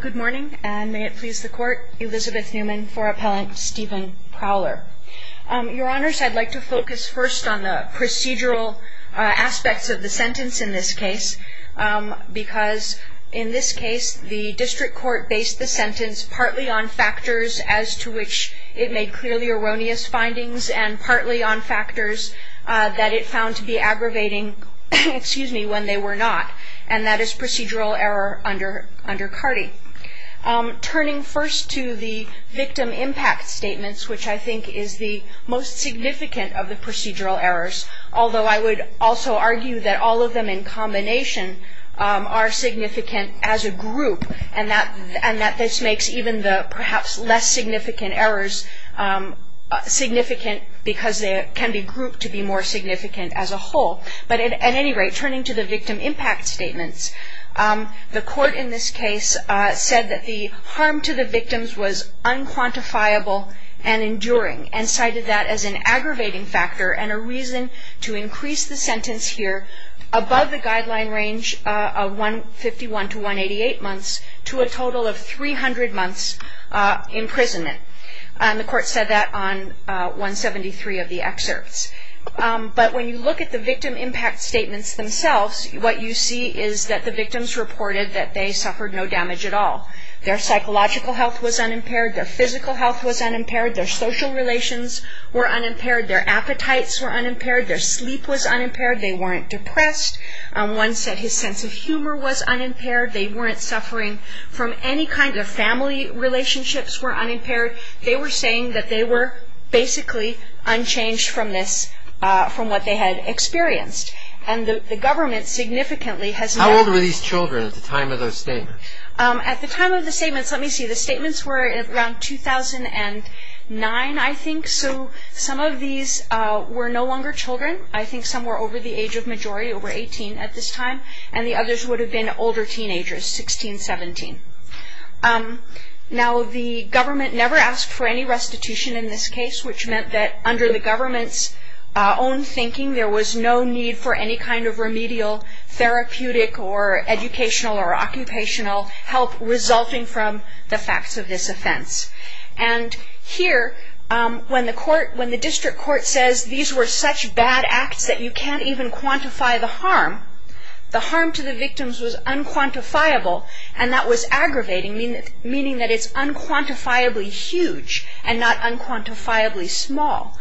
good morning and may it please the court Elizabeth Newman for appellant Steven Prowler your honors I'd like to focus first on the procedural aspects of the sentence in this case because in this case the district court based the sentence partly on factors as to which it made clearly erroneous findings and partly on factors that it found to be aggravating excuse me when they were not and that is procedural error under under CARTI. Turning first to the victim impact statements which I think is the most significant of the procedural errors although I would also argue that all of them in combination are significant as a group and that and that this makes even the perhaps less significant errors significant because they can be grouped to be more significant than the victim impact statements. The court in this case said that the harm to the victims was unquantifiable and enduring and cited that as an aggravating factor and a reason to increase the sentence here above the guideline range of 151 to 188 months to a total of 300 months imprisonment. The court said that on 173 of the excerpts but when you look at the victim impact statements themselves what you see is that the victims reported that they suffered no damage at all their psychological health was unimpaired, their physical health was unimpaired, their social relations were unimpaired, their appetites were unimpaired, their sleep was unimpaired, they weren't depressed, one said his sense of humor was unimpaired, they weren't suffering from any kind of family relationships were unimpaired, they were saying that they were basically unchanged from this from what they had experienced and the government significantly has... How old were these children at the time of those statements? At the time of the statements let me see the statements were around 2009 I think so some of these were no longer children I think some were over the age of majority over 18 at this time and the others would have been older teenagers 16, 17. Now the government never asked for any restitution in this case which meant that under the government's own thinking there was no need for any kind of therapeutic or educational or occupational help resulting from the facts of this offense and here when the court when the district court says these were such bad acts that you can't even quantify the harm, the harm to the victims was unquantifiable and that was aggravating meaning that it's unquantifiably huge and not unquantifiably small.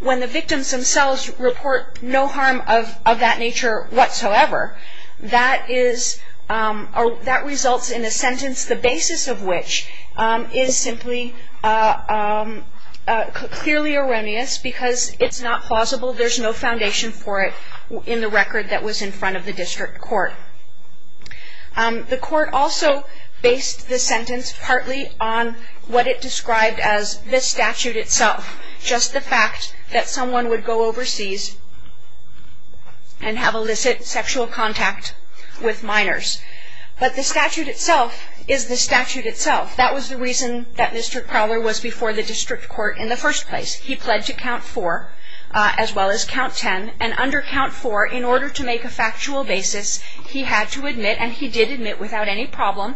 When the victims themselves report no harm of that nature whatsoever that is or that results in a sentence the basis of which is simply clearly erroneous because it's not plausible there's no foundation for it in the record that was in front of the district court. The court also based the sentence partly on what it meant to go overseas and have illicit sexual contact with minors but the statute itself is the statute itself that was the reason that Mr. Crowler was before the district court in the first place he pled to count four as well as count ten and under count four in order to make a factual basis he had to admit and he did admit without any problem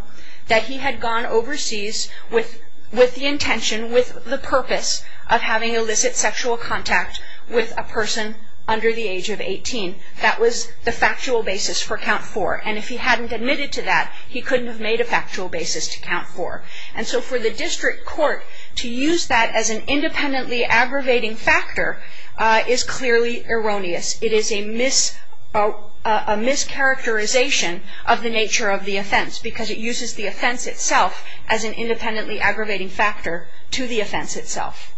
that he had gone overseas with with the intention with the purpose of having illicit sexual contact with a person under the age of 18 that was the factual basis for count four and if he hadn't admitted to that he couldn't have made a factual basis to count four and so for the district court to use that as an independently aggravating factor is clearly erroneous it is a mischaracterization of the nature of the offense because it uses the offense itself as an independently aggravating factor to the offense itself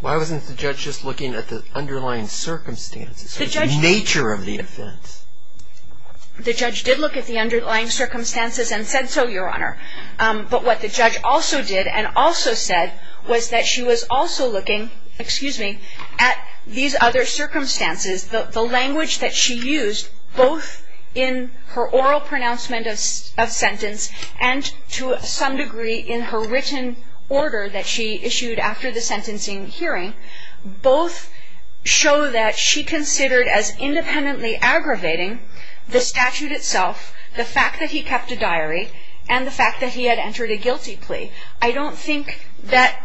why wasn't the judge just looking at the underlying circumstances the nature of the offense the judge did look at the underlying circumstances and said so your honor but what the judge also did and also said was that she was also looking excuse me at these other circumstances the language that she used both in her oral pronouncement of sentence and to some degree in her written order that she issued after the sentencing hearing both show that she considered as independently aggravating the statute itself the fact that he kept a diary and the fact that he had entered a guilty plea I don't think that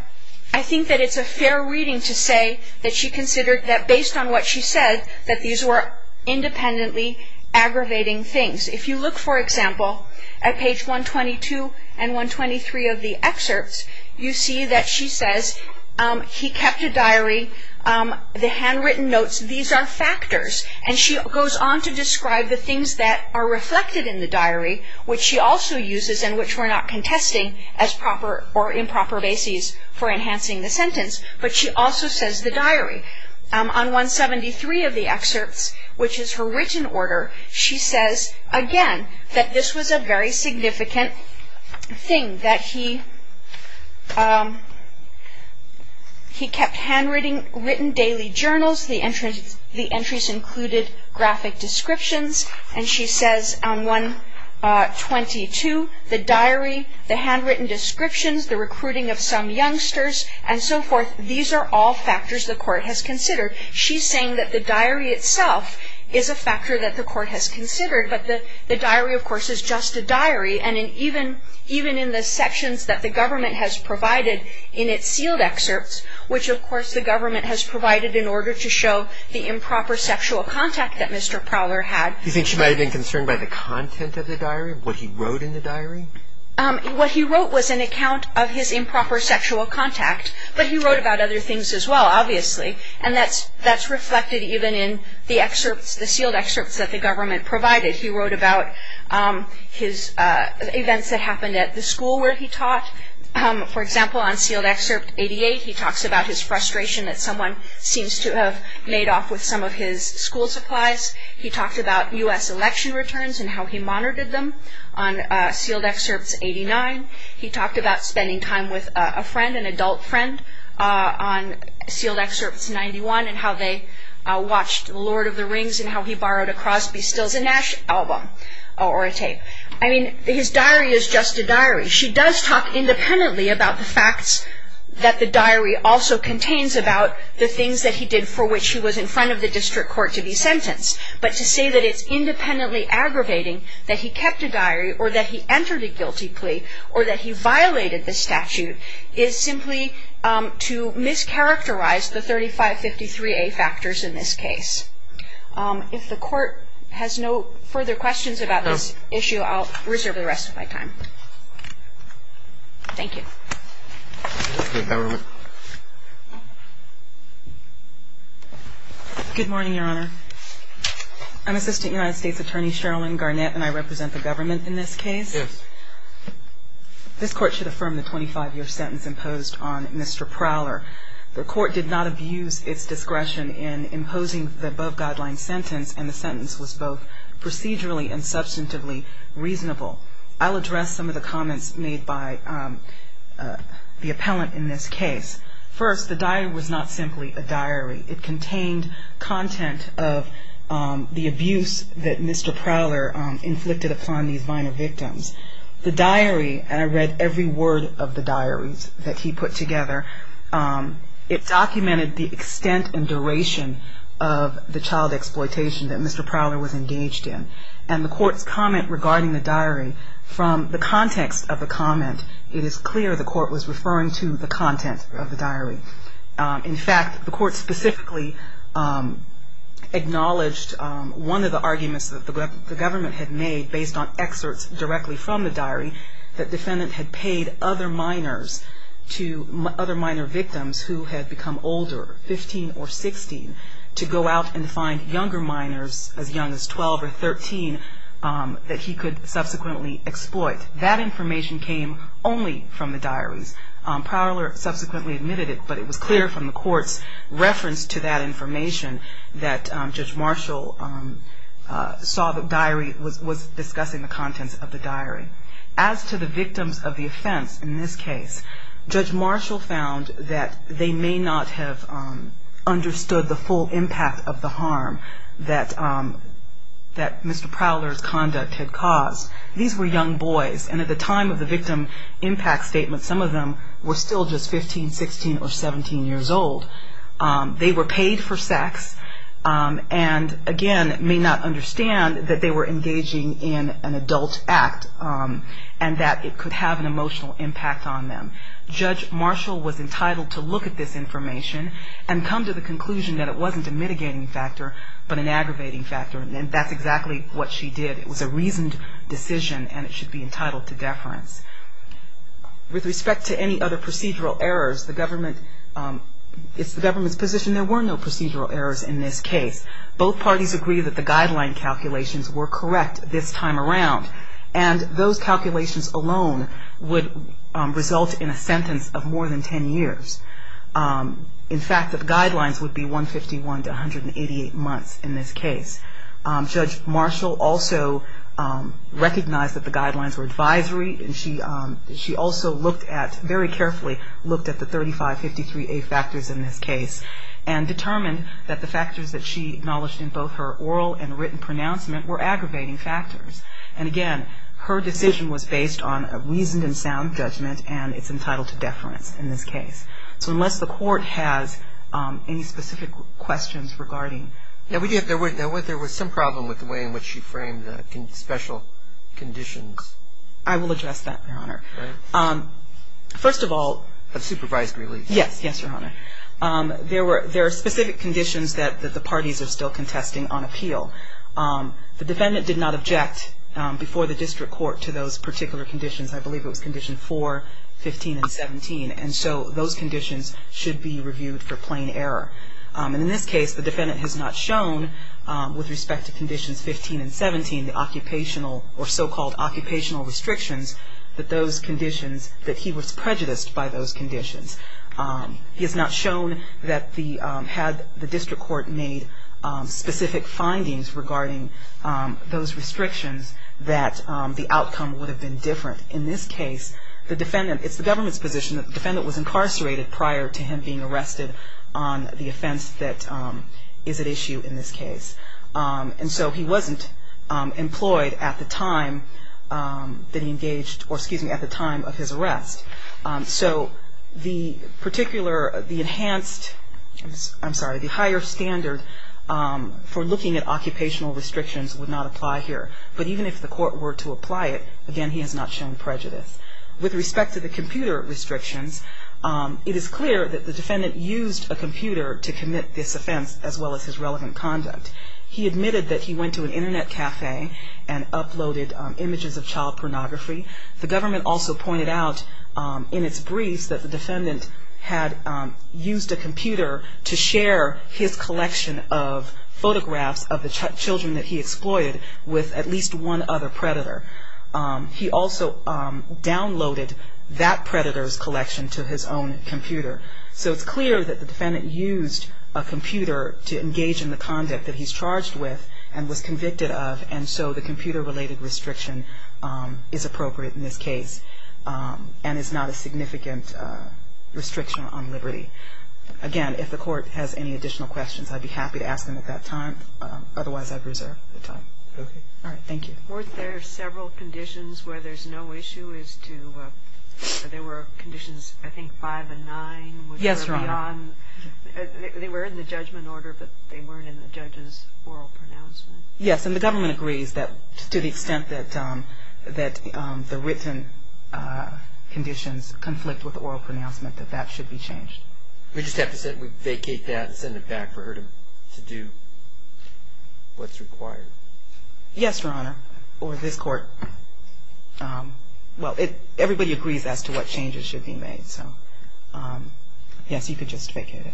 I think that it's a fair reading to say that she considered that based on what she said that these were independently aggravating things if you look for example at page 122 and 123 of the excerpts you see that she says he kept a diary the handwritten notes these are factors and she goes on to describe the things that are reflected in the diary which she also uses in which we're not contesting as proper or improper basis for enhancing the sentence but she also says the diary on 173 of the excerpts which is her written order she says again that this was a very significant thing that he he kept handwriting written daily journals the entrance the entries included graphic descriptions and she says on 122 the diary the handwritten descriptions the recruiting of some youngsters and so forth these are all factors the court has considered she's saying that the diary itself is a factor that the court has considered but the diary of course is just a diary and even even in the sections that the government has provided in its sealed excerpts which of course the government has provided in order to show the improper sexual contact that mr. Prowler had you think she might have been concerned by the content of the diary what he wrote in the diary what he wrote was an account of his improper sexual contact but he things as well obviously and that's that's reflected even in the excerpts the sealed excerpts that the government provided he wrote about his events that happened at the school where he taught for example on sealed excerpt 88 he talks about his frustration that someone seems to have made off with some of his school supplies he talked about US election returns and how he monitored them on sealed excerpts 89 he talked about spending time with a friend an sealed excerpts 91 and how they watched Lord of the Rings and how he borrowed a cross be stills a Nash album or a tape I mean his diary is just a diary she does talk independently about the facts that the diary also contains about the things that he did for which he was in front of the district court to be sentenced but to say that it's independently aggravating that he kept a diary or that he entered a guilty plea or that he violated the statute is simply to mischaracterize the 3553 a factors in this case if the court has no further questions about this issue I'll reserve the rest of my time thank you good morning your honor I'm assistant United States Attorney Sherrilyn Garnett and I represent the government in this case this court should affirm the 25-year sentence imposed on mr. Prowler the court did not abuse its discretion in imposing the above-guidelines sentence and the sentence was both procedurally and substantively reasonable I'll address some of the comments made by the appellant in this case first the diary was not simply a diary it contained content of the abuse that mr. Prowler inflicted upon these minor victims the diary and I read every word of the diaries that he put together it documented the extent and duration of the child exploitation that mr. Prowler was engaged in and the court's comment regarding the diary from the context of the comment it is clear the court was referring to the content of the diary in fact the court specifically acknowledged one of the arguments that the government had made based on excerpts directly from the diary that defendant had paid other minors to other minor victims who had become older 15 or 16 to go out and find younger minors as young as 12 or 13 that he could subsequently exploit that information came only from the diaries Prowler subsequently admitted it but it was clear from the information that judge Marshall saw the diary was discussing the contents of the diary as to the victims of the offense in this case judge Marshall found that they may not have understood the full impact of the harm that that mr. Prowler's conduct had caused these were young boys and at the time of the victim impact statement some of them were still just 15 16 or 17 years old they were paid for sex and again may not understand that they were engaging in an adult act and that it could have an emotional impact on them judge Marshall was entitled to look at this information and come to the conclusion that it wasn't a mitigating factor but an aggravating factor and that's exactly what she did it was a reasoned decision and it should be entitled to deference with respect to any other procedural errors the government it's the government's position there were no procedural errors in this case both parties agree that the guideline calculations were correct this time around and those calculations alone would result in a sentence of more than 10 years in fact that the guidelines would be 151 to 188 months in this case judge Marshall also recognized that the guidelines were advisory and she she also looked at very carefully looked at the 3553 a factors in this case and determined that the factors that she acknowledged in both her oral and written pronouncement were aggravating factors and again her decision was based on a reasoned and sound judgment and it's entitled to deference in this case so unless the court has any specific questions regarding now we do have there was some problem with the way in which you frame the special conditions I will address that your honor first of all a supervised release yes yes your honor there were there are specific conditions that the parties are still contesting on appeal the defendant did not object before the district court to those particular conditions I believe it was condition for 15 and 17 and so those conditions should be reviewed for plain error and in this case the defendant has not shown with respect to conditions 15 and 17 occupational or so-called occupational restrictions that those conditions that he was prejudiced by those conditions is not shown that the had the district court made specific findings regarding those restrictions that the outcome would have been different in this case the defendant it's the government's position that defendant was incarcerated prior to him being arrested on the offense that is it issue in this case and so he wasn't employed at the time that he engaged or excuse me at the time of his arrest so the particular the enhanced I'm sorry the higher standard for looking at occupational restrictions would not apply here but even if the court were to apply it again he has not shown prejudice with respect to the computer restrictions it is clear that the defendant used a conduct he admitted that he went to an internet cafe and uploaded images of child pornography the government also pointed out in its briefs that the defendant had used a computer to share his collection of photographs of the children that he exploited with at least one other predator he also downloaded that predators collection to his own computer so it's clear that the conduct that he's charged with and was convicted of and so the computer related restriction is appropriate in this case and is not a significant restriction on liberty again if the court has any additional questions I'd be happy to ask them at that time otherwise I've reserved the time all right thank you weren't there several conditions where there's no issue is to there were conditions I think by the nine yes Ron they were in the judgment order but they weren't in the judges oral pronouncement yes and the government agrees that to the extent that that the written conditions conflict with the oral pronouncement that that should be changed we just have to say we vacate that and send it back for her to do what's required yes your honor or this court well it everybody agrees as to what changes should be made so yes you could just vacate it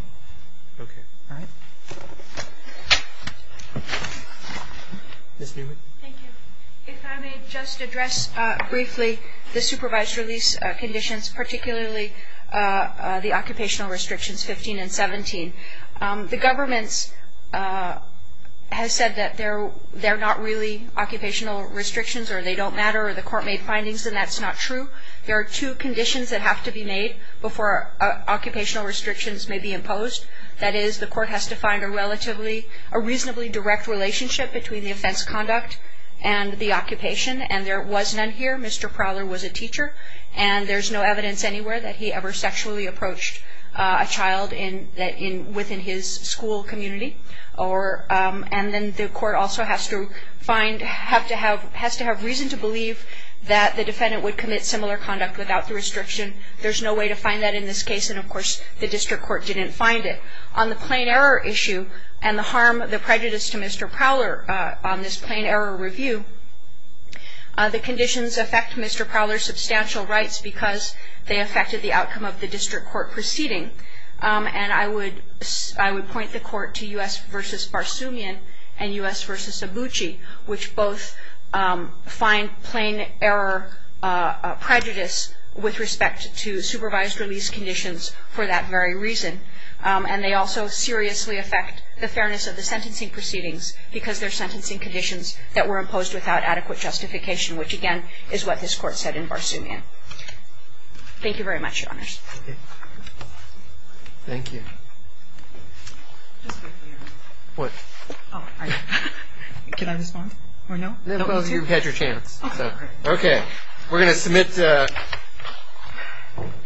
just address briefly the supervised release conditions particularly the occupational restrictions 15 and 17 the government's has said that they're they're not really occupational restrictions or they don't matter or the court made findings and that's not true there are two conditions that have to be made before occupational restrictions may be imposed that is the court has to find a relatively a reasonably direct relationship between the offense conduct and the occupation and there was none here mr. Prowler was a teacher and there's no evidence anywhere that he ever sexually approached a child in that in within his school community or and then the court also has to find have to have has to have reason to believe that the there's no way to find that in this case and of course the district court didn't find it on the plane error issue and the harm of the prejudice to mr. Prowler on this plane error review the conditions affect mr. Prowler substantial rights because they affected the outcome of the district court proceeding and I would I would point the court to us versus Barsoomian and us which both find plane error prejudice with respect to supervised release conditions for that very reason and they also seriously affect the fairness of the sentencing proceedings because they're sentencing conditions that were imposed without adequate justification which again is what this court said in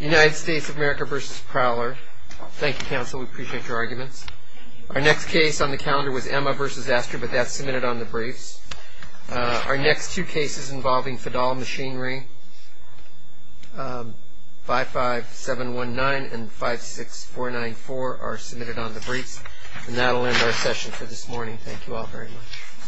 United States of America versus Prowler thank you counsel we appreciate your arguments our next case on the calendar was Emma versus Astor but that's submitted on the briefs our next two cases involving Fidel machinery five five seven one nine and five six four nine four are submitted on the briefs our session for this morning thank you all very much